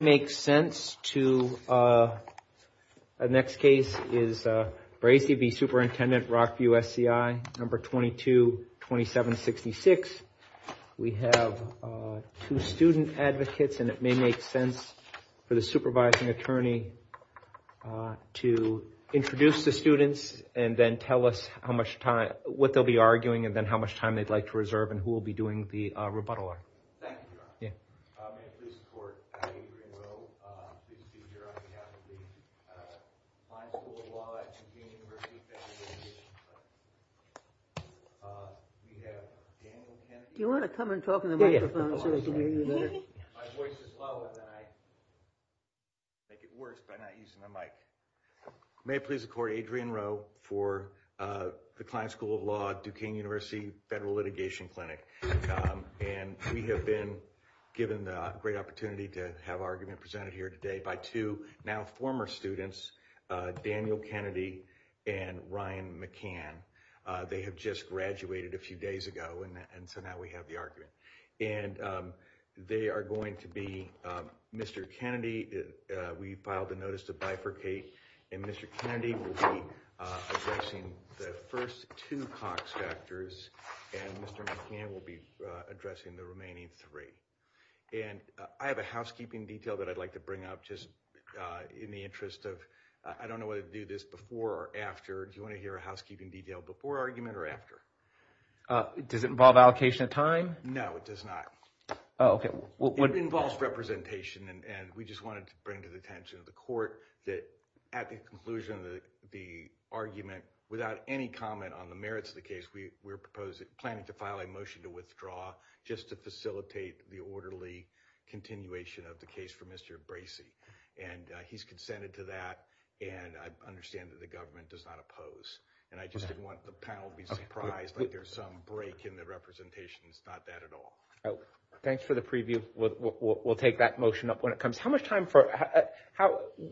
makes sense to the next case is Bracey v. Superintendent Rockview SCI number 222766. We have two student advocates and it may make sense for the supervising attorney to introduce the students and then tell us how much time what they'll be arguing and then how much time they'd like to reserve and who will be doing the rebuttal. Adrian Rowe, please be here on behalf of the Kline School of Law at Duquesne University Federal Litigation Clinic. We have Daniel Kennedy, my voice is low and I think it works by not using the mic. May it please the court, Adrian Rowe for the Kline School of Law at Duquesne University Federal Litigation Clinic. And we have been given the great opportunity to have argument presented here today by two now former students, Daniel Kennedy and Ryan McCann. They have just graduated a few days ago and so now we have the argument and they are going to be Mr. Kennedy. We filed a notice to bifurcate and Mr. Kennedy will be addressing the first two Cox factors and Mr. McCann will be addressing the remaining three and I have a housekeeping detail that I'd like to bring up just in the interest of I don't know whether to do this before or after. Do you want to hear a housekeeping detail before argument or after? Does it involve allocation of time? No, it does not. Oh, OK. Well, it involves representation and we just wanted to bring to the attention of the court that at the conclusion of the argument without any comment on the merits of the case, we were proposing planning to file a motion to withdraw just to facilitate the orderly continuation of the case for Mr. Bracey. And he's consented to that and I understand that the government does not oppose and I just didn't want the panel to be surprised that there's some break in the representations, not that at all. Thanks for the preview. We'll take that motion up when it comes. How much time for,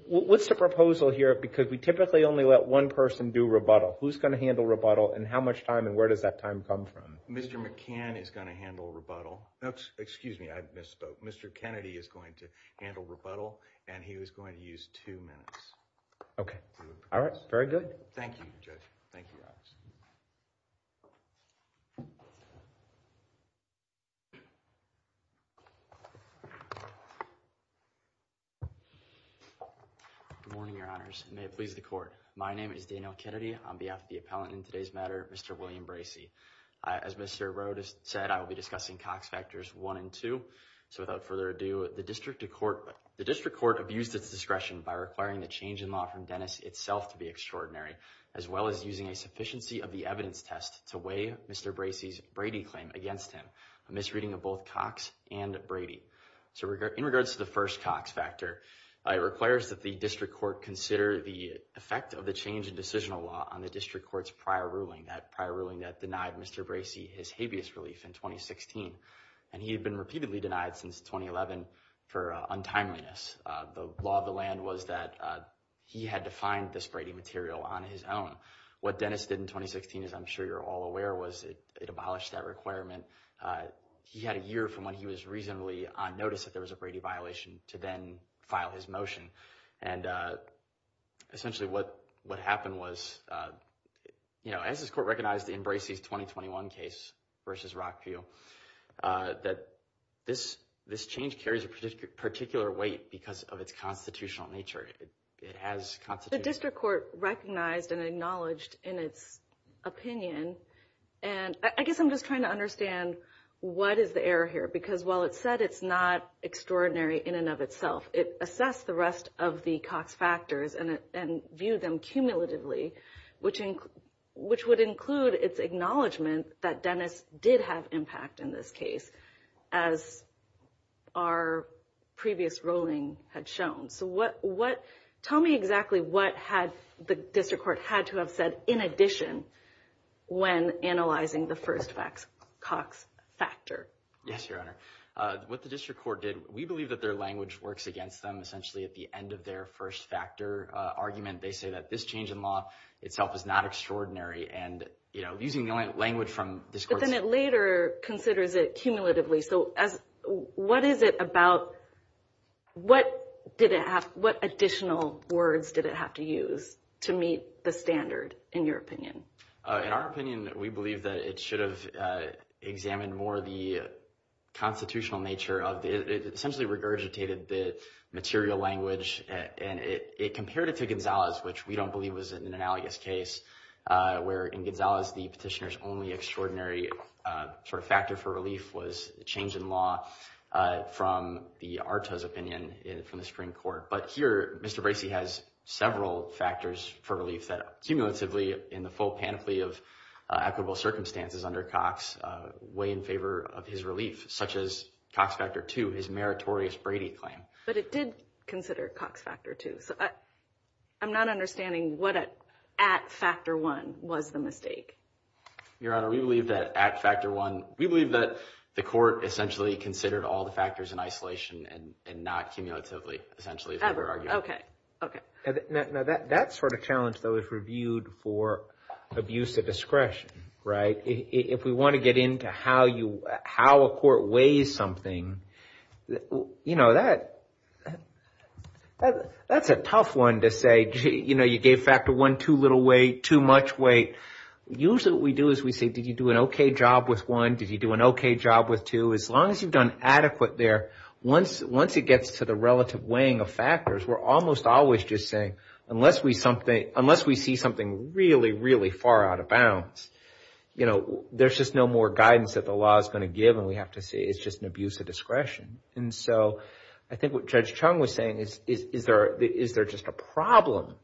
what's the proposal here? Because we typically only let one person do rebuttal. Who's going to handle rebuttal and how much time and where does that time come from? Mr. McCann is going to handle rebuttal. Excuse me, I misspoke. Mr. Kennedy is going to handle rebuttal and he was going to use two minutes. OK. All right. Very good. Thank you, Judge. Thank you. Good morning, Your Honors. May it please the court. My name is Daniel Kennedy on behalf of the appellant in today's matter, Mr. William Bracey. As Mr. Road has said, I will be discussing Cox factors one and two. So without further ado, the district court abused its discretion by requiring the change in law from Dennis itself to be extraordinary, as well as using a sufficiency of the evidence test to weigh Mr. Bracey's Brady claim against him, a misreading of both Cox and Brady. So in regards to the first Cox factor, it requires that the district court consider the effect of the change in decisional law on the district court's prior ruling, that prior ruling that denied Mr. Bracey his habeas relief in 2016. And he had been repeatedly denied since 2011 for untimeliness. The law of the land was that he had to find this Brady material on his own. What Dennis did in 2016, as I'm sure you're all aware, was it abolished that requirement. He had a year from when he was reasonably on notice that there was a Brady violation to then file his motion. And essentially what what happened was, you know, as this court recognized in Bracey's 2021 case versus Rockfield, that this this change carries a particular weight because of its constitutional nature. It has constitution. The district court recognized and acknowledged in its opinion. And I guess I'm just trying to understand what is the error here? Because while it said it's not extraordinary in and of itself, it assessed the rest of the Cox factors and viewed them cumulatively, which which would include its acknowledgment that Dennis did have impact in this case, as our previous ruling had shown. So what what tell me exactly what had the district court had to have said in addition when analyzing the first facts Cox factor? Yes, Your Honor. What the district court did, we believe that their language works against them essentially at the end of their first factor argument. They say that this change in law itself is not extraordinary. And, you know, using the language from this court later considers it cumulatively. So as what is it about what did it have? What additional words did it have to use to meet the standard, in your opinion? In our opinion, we believe that it should have examined more of the constitutional nature of it essentially regurgitated the material language and it compared it to Gonzalez, which we don't believe was an analogous case where in Gonzalez, the petitioner's only extraordinary sort of factor for relief was the change in law from the Arto's opinion from the Supreme Court. But here, Mr. Bracey has several factors for relief that are cumulatively in the full panoply of equitable circumstances under Cox way in favor of his relief, such as Cox factor two, his meritorious Brady claim. But it did consider Cox factor two. So I'm not understanding what at factor one was the mistake. Your Honor, we believe that at factor one, we believe that the court essentially considered all the factors in isolation and not cumulatively, essentially. OK, OK. Now, that sort of challenge, though, is reviewed for abuse of discretion, right? If we want to get into how you how a court weighs something, you know, that that's a tough one to say. You know, you gave factor one too little weight, too much weight. Usually what we do is we say, did you do an OK job with one? Did you do an OK job with two? As long as you've done adequate there, once once it gets to the relative weighing of factors, we're almost always just saying unless we see something really, really far out of bounds, you know, there's just no more guidance that the law is going to give. And we have to say it's just an abuse of discretion. And so I think what Judge Chung was saying is, is there is there just a problem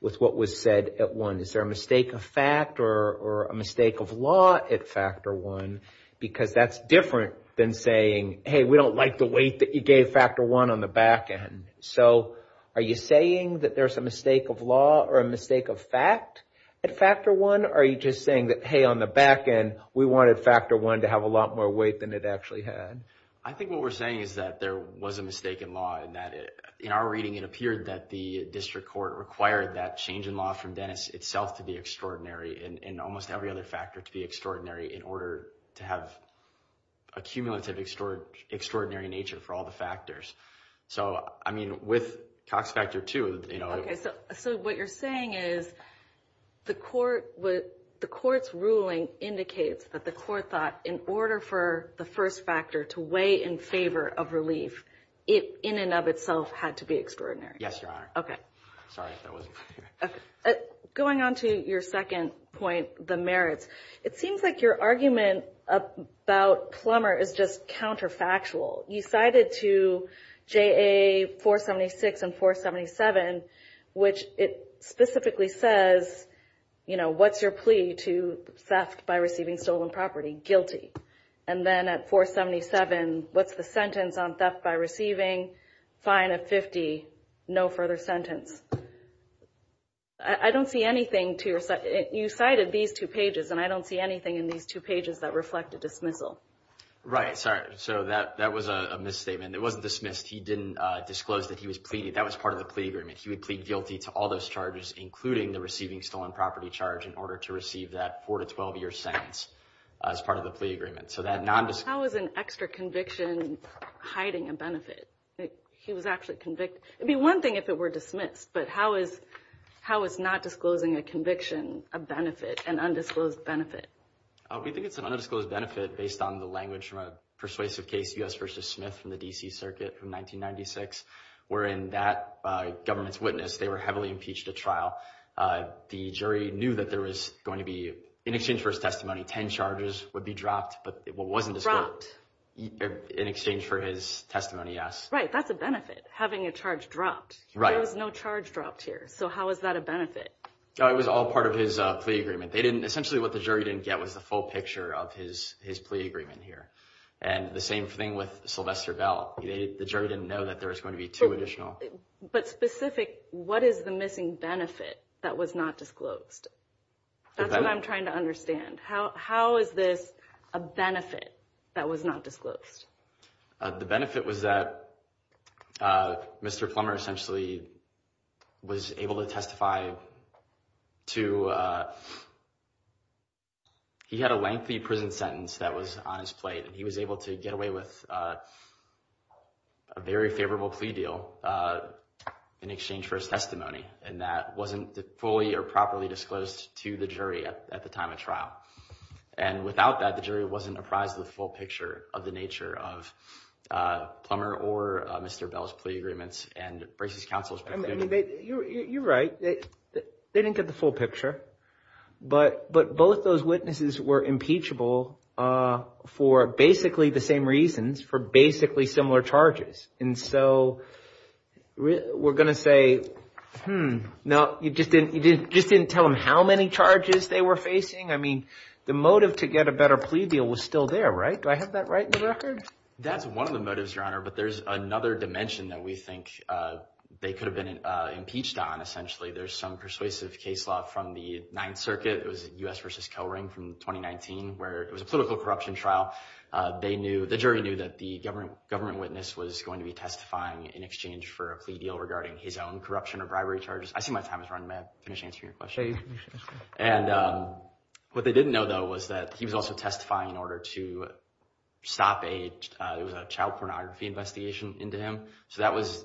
with what was said at one? Is there a mistake of fact or a mistake of law at factor one? Because that's different than saying, hey, we don't like the weight that you gave factor one on the back end. So are you saying that there's a mistake of law or a mistake of fact at factor one? Are you just saying that, hey, on the back end, we wanted factor one to have a lot more weight than it actually had? I think what we're saying is that there was a mistake in law and that in our reading, it appeared that the district court required that change in law from Dennis itself to be extraordinary and almost every other factor to be extraordinary in order to have a cumulative extraordinary nature for all the factors. So, I mean, with Cox factor two, you know, OK, so so what you're saying is the court with the court's ruling indicates that the court thought in order for the first factor to weigh in favor of relief, it in and of itself had to be extraordinary. Yes, Your Honor. OK, sorry if that wasn't going on to your second point, the merits. It seems like your argument about Plummer is just counterfactual. You cited to J.A. 476 and 477, which it specifically says, you know, what's your plea to theft by receiving stolen property? Guilty. And then at 477, what's the sentence on theft by receiving fine of 50? No further sentence. I don't see anything to you cited these two pages and I don't see anything in these two pages that reflect a dismissal. Right. Sorry. So that that was a misstatement. It wasn't dismissed. He didn't disclose that he was pleading. That was part of the plea agreement. He would plead guilty to all those charges, including the receiving stolen property charge, in order to receive that four to 12 year sentence as part of the plea agreement. So that non-disclosure was an extra conviction, hiding a benefit. He was actually convicted. It'd be one thing if it were dismissed. But how is how is not disclosing a conviction, a benefit, an undisclosed benefit? We think it's an undisclosed benefit based on the language from a persuasive case, U.S. versus Smith from the D.C. Circuit from 1996, wherein that government's witness, they were heavily impeached at trial. The jury knew that there was going to be in exchange for his testimony, 10 charges would be dropped. But it wasn't described in exchange for his testimony. Yes. Right. That's a benefit. Having a charge dropped. Right. There was no charge dropped here. So how is that a benefit? It was all part of his plea agreement. They didn't essentially what the jury didn't get was the full picture of his his plea agreement here. And the same thing with Sylvester Bell. The jury didn't know that there was going to be two additional. But specific, what is the missing benefit that was not disclosed? That's what I'm trying to understand. How how is this a benefit that was not disclosed? The benefit was that Mr. Plummer essentially was able to testify to. He had a lengthy prison sentence that was on his plate and he was able to get away with a very favorable plea deal in exchange for his testimony. And that wasn't fully or properly disclosed to the jury at the time of trial. And without that, the jury wasn't apprised of the full picture of the nature of Plummer or Mr. Bell's plea agreements and Bracey's counsel's. You're right. They didn't get the full picture. But but both those witnesses were impeachable for basically the same reasons, for basically similar charges. And so we're going to say, hmm, no, you just didn't you just didn't tell him how many charges they were facing. I mean, the motive to get a better plea deal was still there. Right. Do I have that right in the record? That's one of the motives, Your Honor. But there's another dimension that we think they could have been impeached on. Essentially, there's some persuasive case law from the Ninth Circuit. It was U.S. versus Kellring from 2019, where it was a political corruption trial. They knew the jury knew that the government government witness was going to be testifying in exchange for a plea deal regarding his own corruption or bribery charges. I see my time is running. May I finish answering your question? And what they didn't know, though, was that he was also testifying in order to stop a it was a child pornography investigation into him. So that was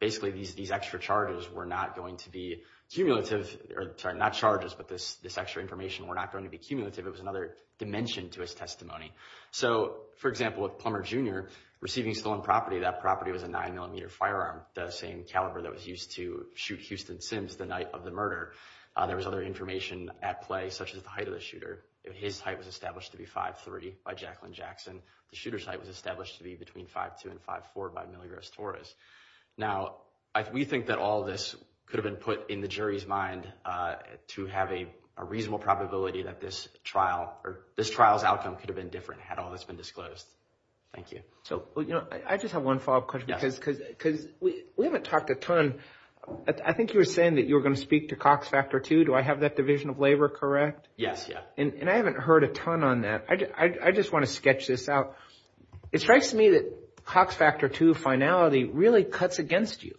basically these these extra charges were not going to be cumulative or not charges. But this this extra information were not going to be cumulative. It was another dimension to his testimony. So, for example, with Plummer Jr. receiving stolen property, that property was a nine millimeter firearm, the same caliber that was used to shoot Houston Sims the night of the murder. There was other information at play, such as the height of the shooter. His height was established to be 5'3 by Jacqueline Jackson. The shooter's height was established to be between 5'2 and 5'4 by Miligros Torres. Now, we think that all this could have been put in the jury's mind to have a reasonable probability that this trial or this trial's outcome could have been different had all this been disclosed. Thank you. So, you know, I just have one follow up question because because we haven't talked a ton. I think you were saying that you were going to speak to Cox Factor 2. Do I have that division of labor correct? Yes. Yeah. And I haven't heard a ton on that. I just want to sketch this out. It strikes me that Cox Factor 2 finality really cuts against you.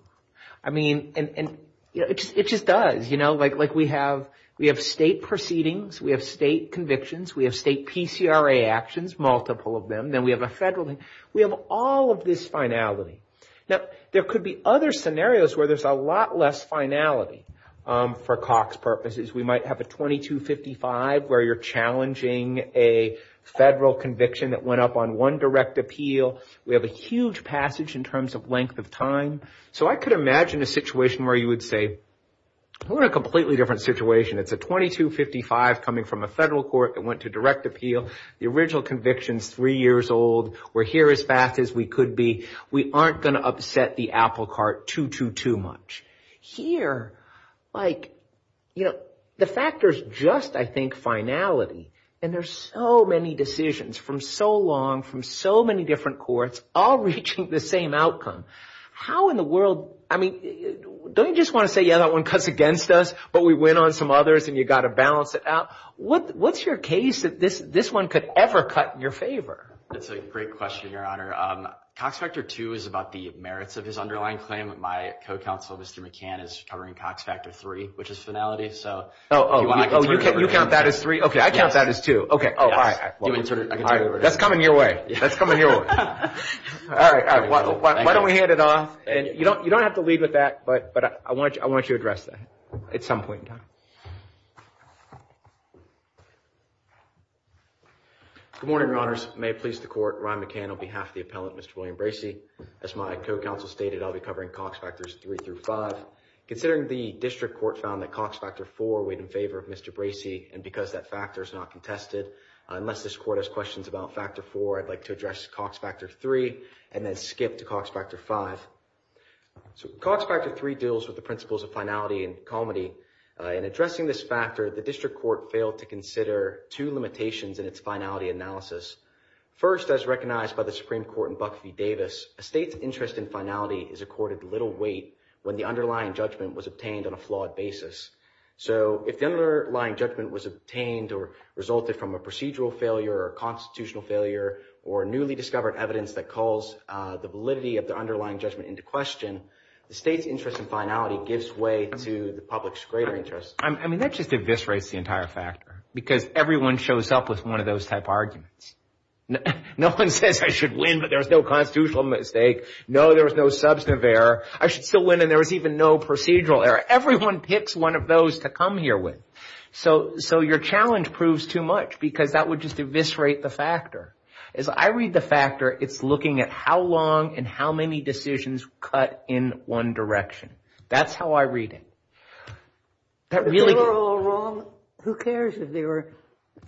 I mean, and it just does, you know, like like we have we have state proceedings. We have state convictions. We have state PCRA actions, multiple of them. Then we have a federal thing. We have all of this finality. Now, there could be other scenarios where there's a lot less finality for Cox purposes. We might have a 2255 where you're challenging a federal conviction that went up on one direct appeal. We have a huge passage in terms of length of time. So I could imagine a situation where you would say, we're in a completely different situation. It's a 2255 coming from a federal court that went to direct appeal. The original conviction's three years old. We're here as fast as we could be. We aren't going to upset the apple cart too, too, too much. Here, like, you know, the factor is just, I think, finality. And there's so many decisions from so long, from so many different courts all reaching the same outcome. How in the world? I mean, don't you just want to say, yeah, that one cuts against us. But we went on some others and you got to balance it out. What what's your case that this this one could ever cut in your favor? That's a great question, Your Honor. Cox Factor 2 is about the merits of his underlying claim. My co-counsel, Mr. McCann, is covering Cox Factor 3, which is finality. So you count that as three. OK, I count that as two. OK. Oh, all right. That's coming your way. That's coming your way. All right. Why don't we hand it off? And you don't you don't have to lead with that. But but I want you I want you to address that at some point in time. Good morning, Your Honors. May it please the court. Ryan McCann on behalf of the appellant, Mr. William Bracey, as my co-counsel stated, I'll be covering Cox Factors three through five, considering the district court found that Cox Factor four weighed in favor of Mr. Bracey. And because that factor is not contested, unless this court has questions about Factor four, I'd like to address Cox Factor three and then skip to Cox Factor five. So Cox Factor three deals with the principles of finality and comity in addressing this factor. The district court failed to consider two limitations in its finality analysis. First, as recognized by the Supreme Court in Buck v. Davis, a state's interest in finality is accorded little weight when the underlying judgment was obtained on a flawed basis. So if the underlying judgment was obtained or resulted from a procedural failure or constitutional failure or newly discovered evidence that calls the validity of the underlying judgment into question, the state's interest in finality gives way to the public's greater interest. I mean, that just eviscerates the entire factor because everyone shows up with one of those type arguments. No one says I should win, but there's no constitutional mistake. No, there was no substantive error. I should still win. And there was even no procedural error. Everyone picks one of those to come here with. So so your challenge proves too much because that would just eviscerate the factor. As I read the factor, it's looking at how long and how many decisions cut in one direction. That's how I read it. That really. Who cares if they were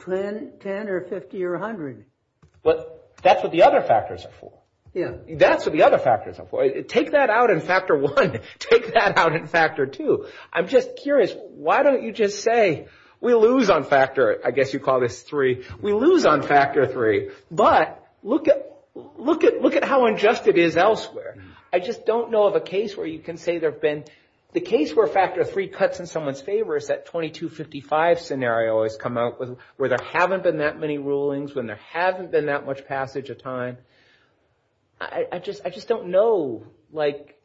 10, 10 or 50 or 100? But that's what the other factors are for. Yeah, that's what the other factors are for. Take that out in factor one. Take that out in factor two. I'm just curious. Why don't you just say we lose on factor? I guess you call this three. We lose on factor three. But look at look at look at how unjust it is elsewhere. I just don't know of a case where you can say there have been the case where factor three cuts in someone's favor is that twenty two fifty five scenario has come out with where there haven't been that many rulings when there haven't been that much passage of time. I just I just don't know, like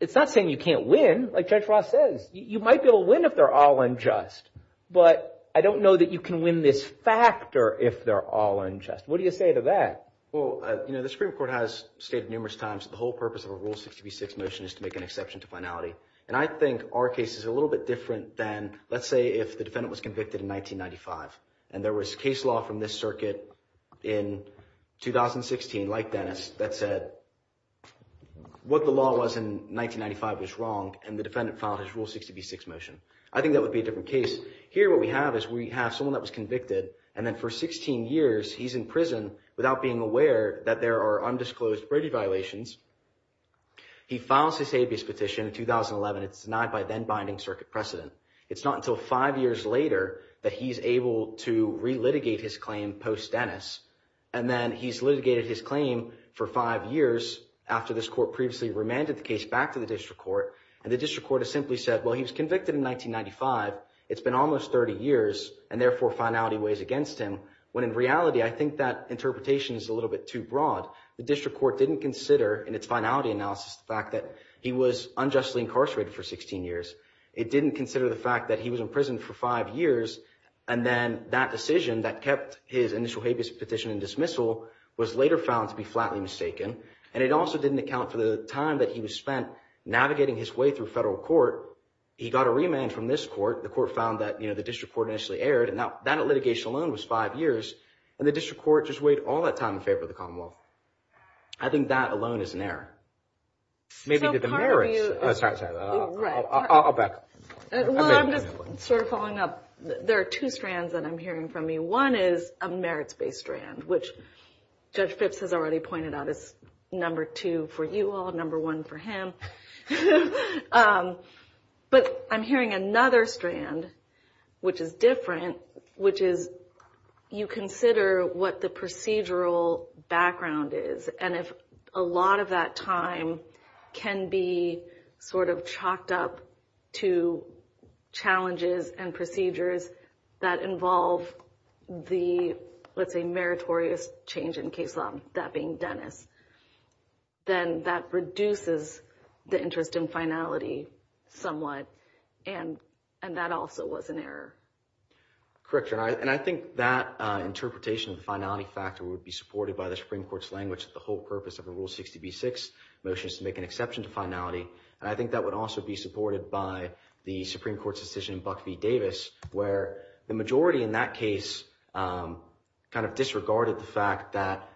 it's not saying you can't win. Like Judge Ross says, you might be able to win if they're all unjust. But I don't know that you can win this factor if they're all unjust. What do you say to that? Well, you know, the Supreme Court has stated numerous times the whole purpose of a rule 66 motion is to make an exception to finality. And I think our case is a little bit different than, let's say, if the defendant was convicted in 1995 and there was case law from this circuit in 2016, like Dennis, that said what the law was in 1995 was wrong and the defendant filed his rule 66 motion. I think that would be a different case here. What we have is we have someone that was convicted and then for 16 years he's in prison without being aware that there are undisclosed brevity violations. He files his habeas petition in 2011. It's denied by then binding circuit precedent. It's not until five years later that he's able to relitigate his claim post Dennis. And then he's litigated his claim for five years after this court previously remanded the case back to the district court. And the district court has simply said, well, he was convicted in 1995. It's been almost 30 years and therefore finality weighs against him. When in reality, I think that interpretation is a little bit too broad. The district court didn't consider in its finality analysis the fact that he was unjustly incarcerated for 16 years. It didn't consider the fact that he was in prison for five years. And then that decision that kept his initial habeas petition and dismissal was later found to be flatly mistaken. And it also didn't account for the time that he was spent navigating his way through federal court. He got a remand from this court. The court found that the district court initially erred. Now, that litigation alone was five years and the district court just weighed all that time in favor of the Commonwealth. I think that alone is an error. Maybe to the merits. Sorry, I'll back up. Well, I'm just sort of following up. There are two strands that I'm hearing from me. One is a merits-based strand, which Judge Phipps has already pointed out is number two for you all, number one for him. But I'm hearing another strand, which is different, which is you consider what the procedural background is. And if a lot of that time can be sort of chalked up to challenges and procedures that involve the, let's say, meritorious change in case law, that being Dennis, then that reduces the interest in finality somewhat. And that also was an error. Correct. And I think that interpretation of the finality factor would be supported by the Supreme Court's language that the whole purpose of a Rule 60b-6 motion is to make an exception to finality. And I think that would also be supported by the Supreme Court's decision in Buck v. Davis, where the majority in that case kind of disregarded the fact that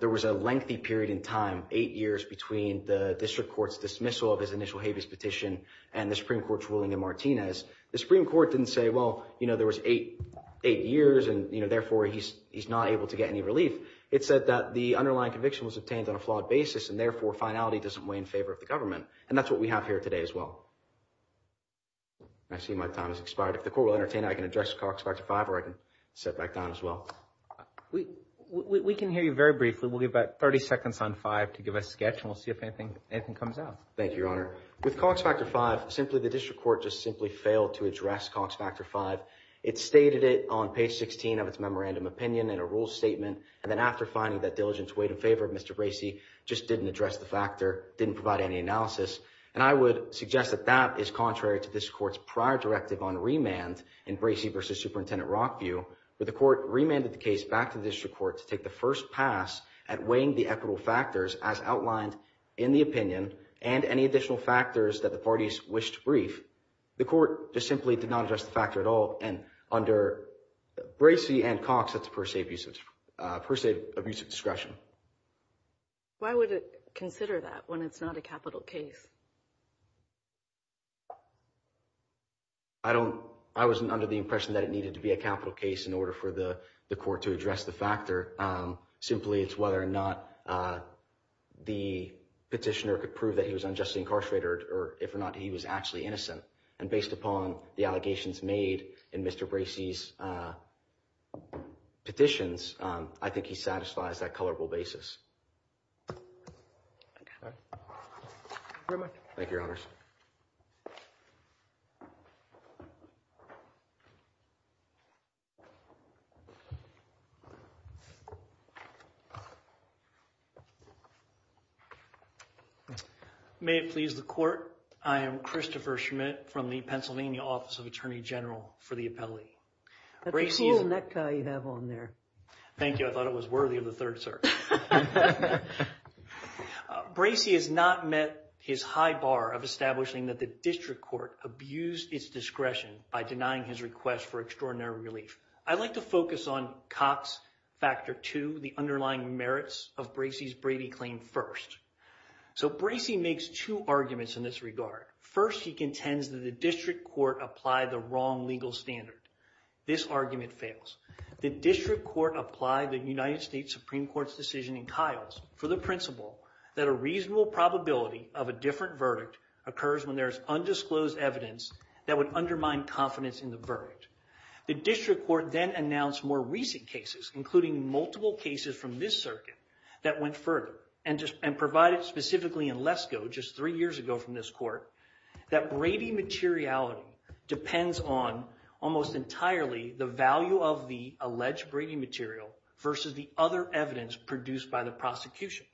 there was a lengthy period in time, eight years between the district court's dismissal of his initial habeas petition and the Supreme Court's ruling in Martinez. The Supreme Court didn't say, well, you know, there was eight years and, you know, therefore, he's not able to get any relief. It said that the underlying conviction was obtained on a flawed basis and therefore finality doesn't weigh in favor of the government. And that's what we have here today as well. I see my time has expired. If the court will entertain, I can address Cox 5 or I can sit back down as well. We can hear you very briefly. We'll give about 30 seconds on 5 to give a sketch and we'll see if anything comes out. Thank you, Your Honor. With Cox Factor 5, simply the district court just simply failed to address Cox Factor 5. It stated it on page 16 of its memorandum opinion in a rule statement. And then after finding that diligence weighed in favor of Mr. Bracey, just didn't address the factor, didn't provide any analysis. And I would suggest that that is contrary to this court's prior directive on remand in Bracey v. Superintendent Rockview, where the court remanded the case back to the district court to make the first pass at weighing the equitable factors as outlined in the opinion and any additional factors that the parties wish to brief. The court just simply did not address the factor at all. And under Bracey and Cox, that's per se abuse of discretion. Why would it consider that when it's not a capital case? I don't I wasn't under the impression that it needed to be a capital case in order for the court to address the factor. Simply, it's whether or not the petitioner could prove that he was unjustly incarcerated or if or not he was actually innocent. And based upon the allegations made in Mr. Bracey's petitions, I think he satisfies that colorable basis. Very much. Thank you, Your Honors. May it please the court. I am Christopher Schmidt from the Pennsylvania Office of Attorney General for the appellee. Bracey's. That cool neck tie you have on there. Thank you. I thought it was worthy of the third, sir. Bracey has not met his high bar of establishing that the district court abused its discretion by denying his request for extraordinary relief. I'd like to focus on Cox factor to the underlying merits of Bracey's Brady claim first. So Bracey makes two arguments in this regard. First, he contends that the district court applied the wrong legal standard. This argument fails. The district court applied the United States Supreme Court's decision in Kyle's for the principle that a reasonable probability of a different verdict occurs when there's undisclosed evidence that would undermine confidence in the verdict. The district court then announced more recent cases, including multiple cases from this circuit, that went further and just and provided specifically in Lesko just three years ago from this court that Brady materiality depends on almost entirely the value of the alleged Brady material versus the other evidence produced by the prosecution.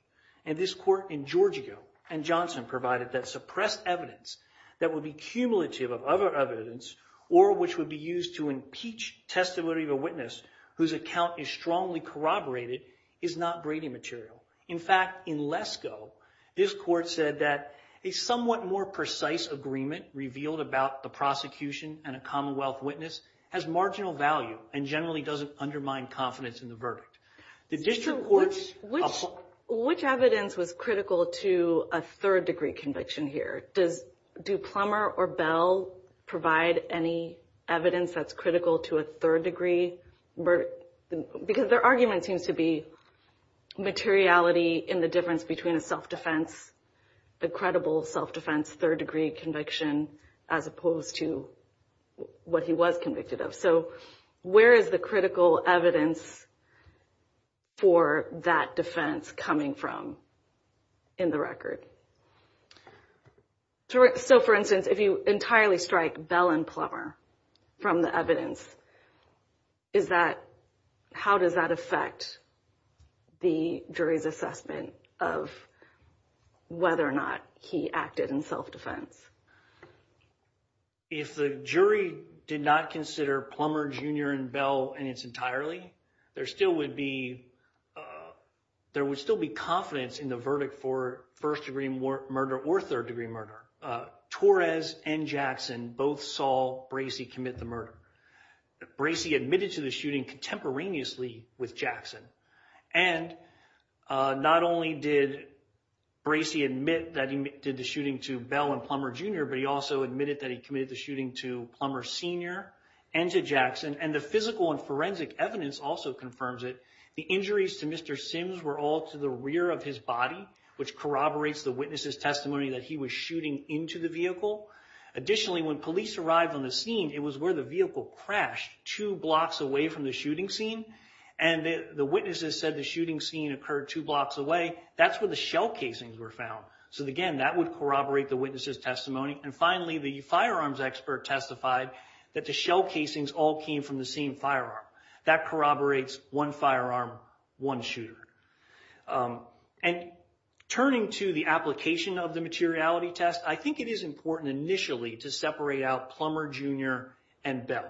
And this court in Georgia and Johnson provided that suppressed evidence that would be cumulative of other evidence or which would be used to impeach testimony of a witness whose account is strongly corroborated is not Brady material. In fact, in Lesko, this court said that a somewhat more precise agreement revealed about the prosecution and a commonwealth witness has marginal value and generally doesn't undermine confidence in the verdict. The district court's. Which evidence was critical to a third degree conviction here? Does do Plummer or Bell provide any evidence that's critical to a third degree verdict? Because their argument seems to be materiality in the difference between a self-defense, the credible self-defense, third degree conviction, as opposed to what he was convicted of. So where is the critical evidence for that defense coming from in the record? So, for instance, if you entirely strike Bell and Plummer from the evidence. Is that how does that affect the jury's assessment of whether or not he acted in self-defense? If the jury did not consider Plummer Jr. and Bell and it's entirely there still would be there would still be confidence in the verdict for first degree murder or third degree murder. Torres and Jackson both saw Bracey commit the murder. Bracey admitted to the shooting contemporaneously with Jackson. And not only did Bracey admit that he did the shooting to Bell and Plummer Jr., but he also admitted that he committed the shooting to Plummer Sr. and to Jackson. And the physical and forensic evidence also confirms it. The injuries to Mr. Sims were all to the rear of his body, which corroborates the witness's testimony that he was shooting into the vehicle. Additionally, when police arrived on the scene, it was where the vehicle crashed two blocks away from the shooting scene. And the witnesses said the shooting scene occurred two blocks away. That's where the shell casings were found. So, again, that would corroborate the witness's testimony. And finally, the firearms expert testified that the shell casings all came from the same firearm. That corroborates one firearm, one shooter. And turning to the application of the materiality test, I think it is important initially to separate out Plummer Jr. and Bell.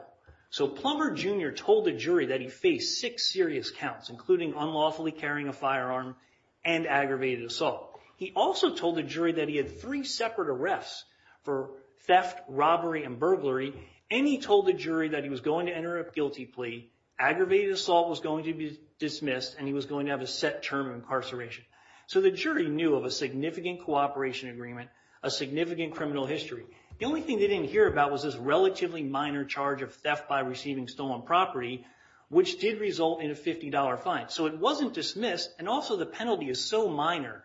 So Plummer Jr. told the jury that he faced six serious counts, including unlawfully carrying a firearm and aggravated assault. He also told the jury that he had three separate arrests for theft, robbery, and burglary. And he told the jury that he was going to enter a guilty plea, aggravated assault was going to be dismissed, and he was going to have a set term of incarceration. So the jury knew of a significant cooperation agreement, a significant criminal history. The only thing they didn't hear about was this relatively minor charge of theft by receiving stolen property, which did result in a $50 fine. So it wasn't dismissed. And also, the penalty is so minor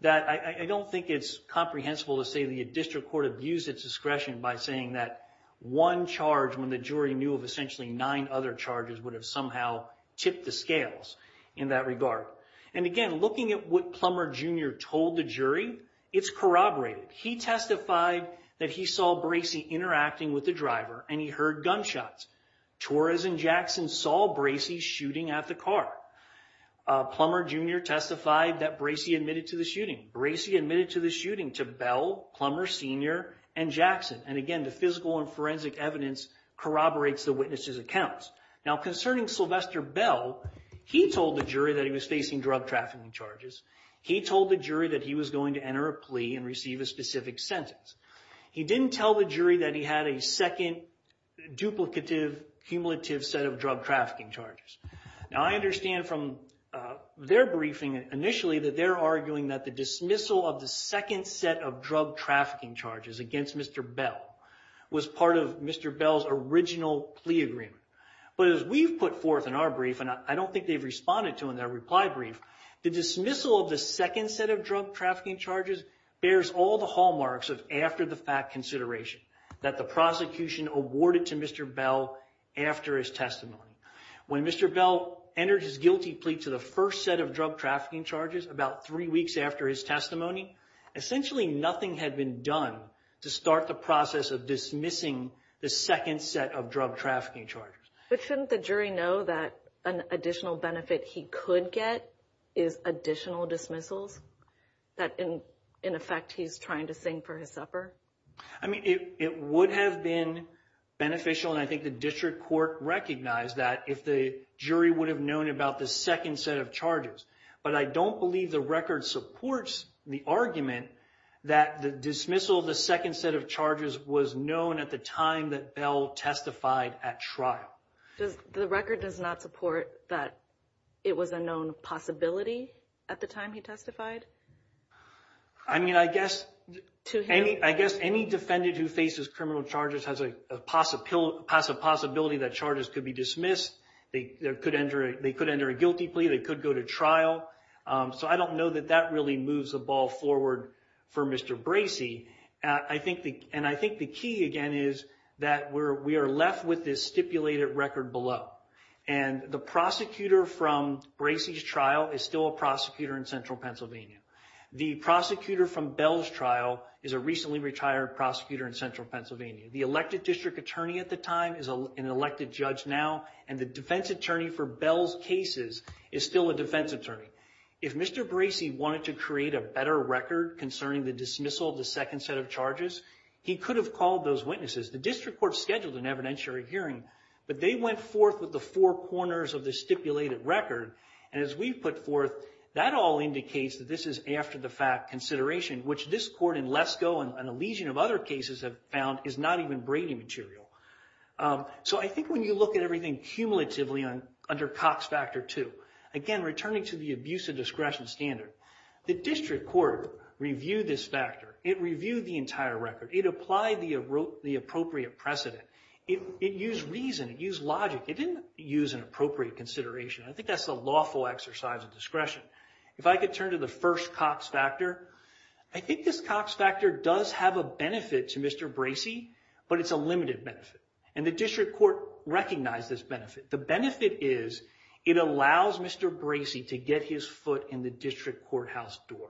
that I don't think it's comprehensible to say the district court abused its discretion by saying that one charge, when the jury knew of essentially nine other charges, would have somehow tipped the scales in that regard. And again, looking at what Plummer Jr. told the jury, it's corroborated. He testified that he saw Bracey interacting with the driver and he heard gunshots. Torres and Jackson saw Bracey shooting at the car. Plummer Jr. testified that Bracey admitted to the shooting. Bracey admitted to the shooting to Bell, Plummer Sr., and Jackson. And again, the physical and forensic evidence corroborates the witness's accounts. Now, concerning Sylvester Bell, he told the jury that he was facing drug trafficking charges. He told the jury that he was going to enter a plea and receive a specific sentence. He didn't tell the jury that he had a second duplicative, cumulative set of drug trafficking charges. Now, I understand from their briefing initially that they're arguing that the dismissal of the second set of drug trafficking charges against Mr. Bell was part of Mr. Bell's original plea agreement. But as we've put forth in our brief, and I don't think they've responded to in their reply brief, the dismissal of the second set of drug trafficking charges bears all the hallmarks of after-the-fact consideration that the prosecution awarded to Mr. Bell after his testimony. When Mr. Bell entered his guilty plea to the first set of drug trafficking charges, about three weeks after his testimony, essentially nothing had been done to start the process of dismissing the second set of drug trafficking charges. But shouldn't the jury know that an additional benefit he could get is additional dismissals that, in effect, he's trying to sing for his supper? I mean, it would have been beneficial, and I think the district court recognized that, if the jury would have known about the second set of charges. But I don't believe the record supports the argument that the dismissal of the second set of charges was known at the time that Bell testified at trial. The record does not support that it was a known possibility at the time he testified? I mean, I guess any defendant who faces criminal charges has a possibility that charges could be dismissed. They could enter a guilty plea. They could go to trial. So I don't know that that really moves the ball forward for Mr. Bracey. And I think the key, again, is that we are left with this stipulated record below. And the prosecutor from Bracey's trial is still a prosecutor in central Pennsylvania. The prosecutor from Bell's trial is a recently retired prosecutor in central Pennsylvania. The elected district attorney at the time is an elected judge now, and the defense attorney for Bell's cases is still a defense attorney. If Mr. Bracey wanted to create a better record concerning the dismissal of the second set of charges, he could have called those witnesses. The district court scheduled an evidentiary hearing, but they went forth with the four corners of the stipulated record. And as we put forth, that all indicates that this is after-the-fact consideration, which this court in Lesko and a legion of other cases have found is not even Brady material. So I think when you look at everything cumulatively under Cox Factor II, again, returning to the abuse of discretion standard, the district court reviewed this It reviewed the entire record. It applied the appropriate precedent. It used reason. It used logic. It didn't use an appropriate consideration. I think that's a lawful exercise of discretion. If I could turn to the first Cox Factor, I think this Cox Factor does have a benefit to Mr. Bracey, but it's a limited benefit. And the district court recognized this benefit. The benefit is it allows Mr. Bracey to get his foot in the district courthouse door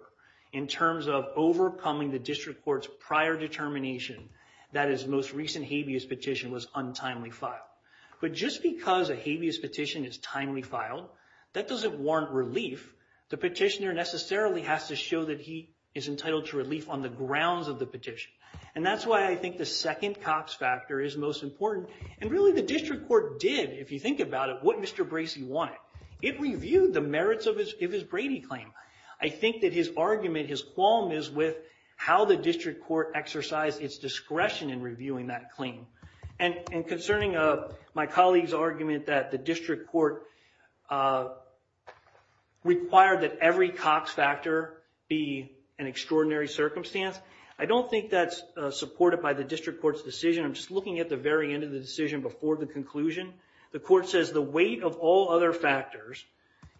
in terms of overcoming the district court's prior determination that his most recent habeas petition was untimely filed. But just because a habeas petition is timely filed, that doesn't warrant relief. The petitioner necessarily has to show that he is entitled to relief on the grounds of the petition. And that's why I think the second Cox Factor is most important. And really, the district court did, if you think about it, what Mr. Bracey wanted. It reviewed the merits of his Brady claim. I think that his argument, his qualm is with how the district court exercised its discretion in reviewing that claim. And concerning my colleague's argument that the district court required that every Cox Factor be an extraordinary circumstance, I don't think that's supported by the district court's decision. I'm just looking at the very end of the decision before the conclusion. The court says the weight of all other factors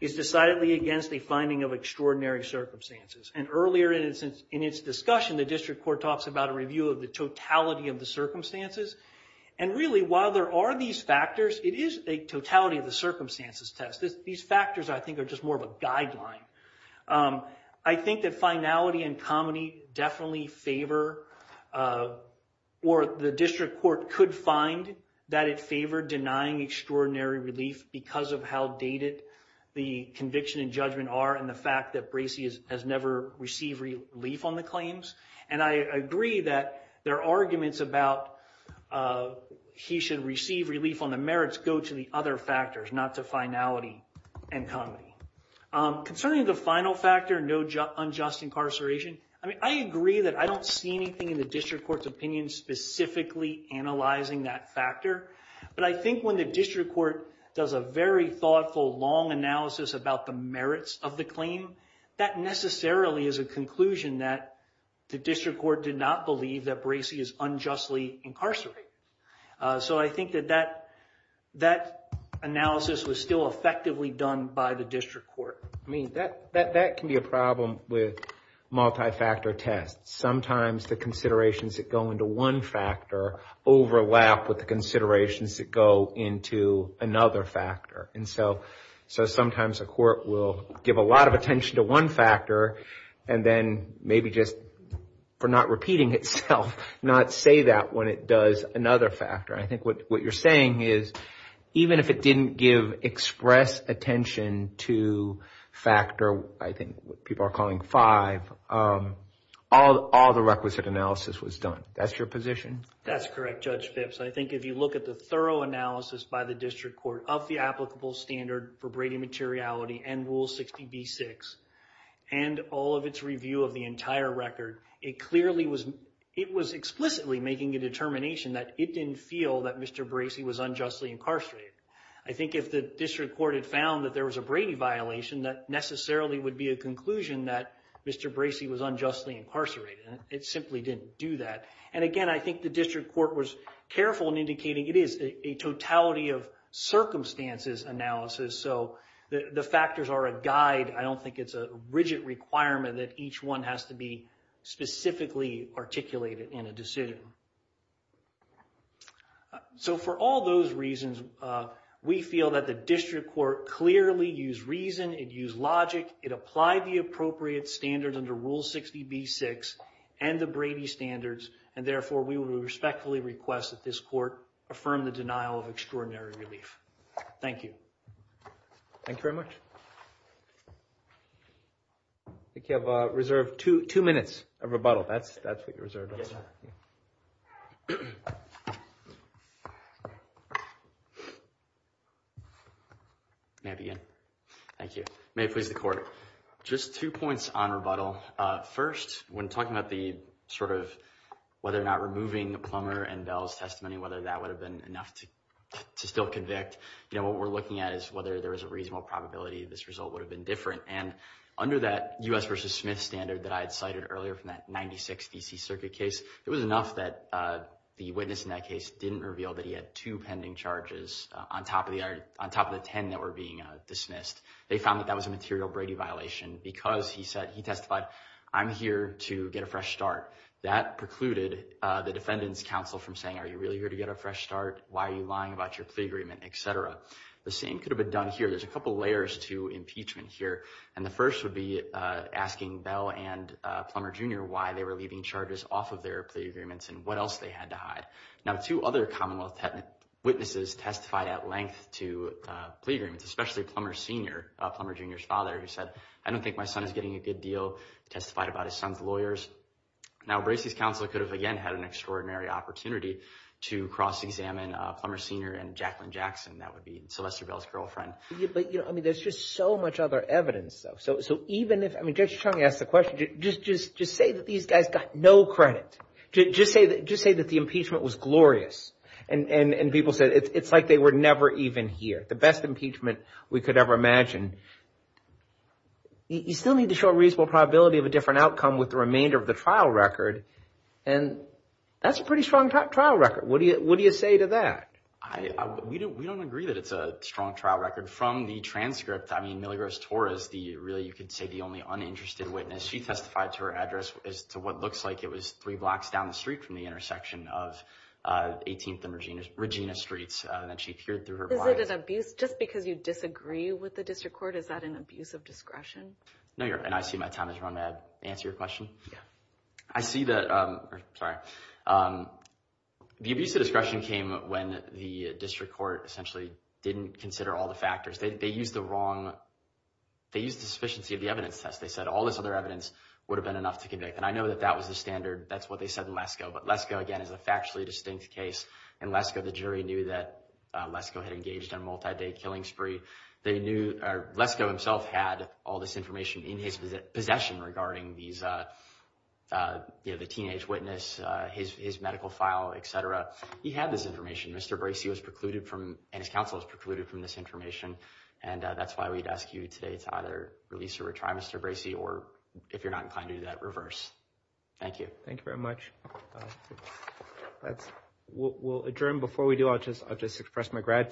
is decidedly against the finding of extraordinary circumstances. And earlier in its discussion, the district court talks about a review of the totality of the circumstances. And really, while there are these factors, it is a totality of the circumstances test. These factors, I think, are just more of a guideline. I think that finality and comity definitely favor or the district court could find that it favored denying extraordinary relief because of how dated the conviction and judgment are and the fact that Bracey has never received relief on the claims. And I agree that their arguments about he should receive relief on the merits go to the other factors, not to finality and comity. Concerning the final factor, no unjust incarceration, I mean, I agree that I don't see anything in the district court's opinion specifically analyzing that factor. But I think when the district court does a very thoughtful, long analysis about the merits of the claim, that necessarily is a conclusion that the district court did not believe that Bracey is unjustly incarcerated. So I think that that analysis was still effectively done by the district court. I mean, that can be a problem with multi-factor tests. Sometimes the considerations that go into one factor overlap with the considerations that go into another factor. And so sometimes a court will give a lot of attention to one factor and then maybe just for not repeating itself, not say that when it does another factor. I think what you're saying is even if it didn't give express attention to factor, I think people are calling five, all the requisite analysis was done. That's your position? That's correct, Judge Phipps. I think if you look at the thorough analysis by the district court of the applicable standard for Brady materiality and Rule 60B-6 and all of its review of the entire record, it clearly was, it was explicitly making a determination that it didn't feel that Mr. Bracey was unjustly incarcerated. I think if the district court had found that there was a Brady violation, that necessarily would be a conclusion that Mr. Bracey was unjustly incarcerated. It simply didn't do that. And again, I think the district court was careful in indicating it is a totality of circumstances analysis. So the factors are a guide. I don't think it's a rigid requirement that each one has to be specifically articulated in a decision. So for all those reasons, we feel that the district court clearly used reason, it used logic, it applied the appropriate standards under Rule 60B-6 and the Brady standards, and therefore, we would respectfully request that this court affirm the denial of extraordinary relief. Thank you. Thank you very much. I think you have reserved two minutes of rebuttal. That's what you reserved. May I begin? Thank you. May it please the court. Just two points on rebuttal. First, when talking about the sort of whether or not removing the Plummer and Bell's testimony, whether that would have been enough to still convict, you know, what we're looking at is whether there is a reasonable probability this result would have been different. And under that U.S. versus Smith standard that I had cited earlier from that 96 DC Circuit case, it was enough that the witness in that case didn't reveal that he had two pending charges on top of the ten that were being dismissed. They found that that was a material Brady violation because he said he testified, I'm here to get a fresh start. That precluded the defendant's counsel from saying, are you really here to get a fresh start? Why are you lying about your plea agreement, et cetera? The same could have been done here. There's a couple of layers to impeachment here. And the first would be asking Bell and Plummer Jr. why they were leaving charges off of their plea agreements and what else they had to hide. Now, two other commonwealth witnesses testified at length to plea agreements, especially Plummer Sr., Plummer Jr.'s father, who said, I don't think my son is getting a good deal. Testified about his son's lawyers. Now, Bracey's counsel could have, again, had an extraordinary opportunity to cross examine Plummer Sr. and Jacqueline Jackson. That would be Sylvester Bell's girlfriend. But, you know, I mean, there's just so much other evidence, though. So so even if I mean, Judge Chung asked the question, just just just say that these guys got no credit, just say that just say that the impeachment was glorious. And people said it's like they were never even here. It's like the best impeachment we could ever imagine. You still need to show a reasonable probability of a different outcome with the remainder of the trial record. And that's a pretty strong trial record. What do you what do you say to that? I we don't we don't agree that it's a strong trial record from the transcript. I mean, Milly Rose Torres, the really you could say the only uninterested witness. She testified to her address as to what looks like it was three blocks down the street from the intersection of 18th and Regina Streets. And then she appeared through her. Is it an abuse just because you disagree with the district court? Is that an abuse of discretion? No. And I see my time is run. May I answer your question? Yeah, I see that. Sorry. The abuse of discretion came when the district court essentially didn't consider all the factors they used the wrong. They used the sufficiency of the evidence test. They said all this other evidence would have been enough to convict. And I know that that was the standard. That's what they said in Lesko. But Lesko, again, is a factually distinct case. And Lesko, the jury knew that Lesko had engaged in a multi-day killing spree. They knew Lesko himself had all this information in his possession regarding these, you know, the teenage witness, his medical file, et cetera. He had this information. Mr. Bracey was precluded from and his counsel was precluded from this information. And that's why we'd ask you today to either release or retry Mr. Bracey or if you're not inclined to do that, reverse. Thank you. Thank you very much. That's what we'll adjourn before we do. I'll just I'll just express my gratitude.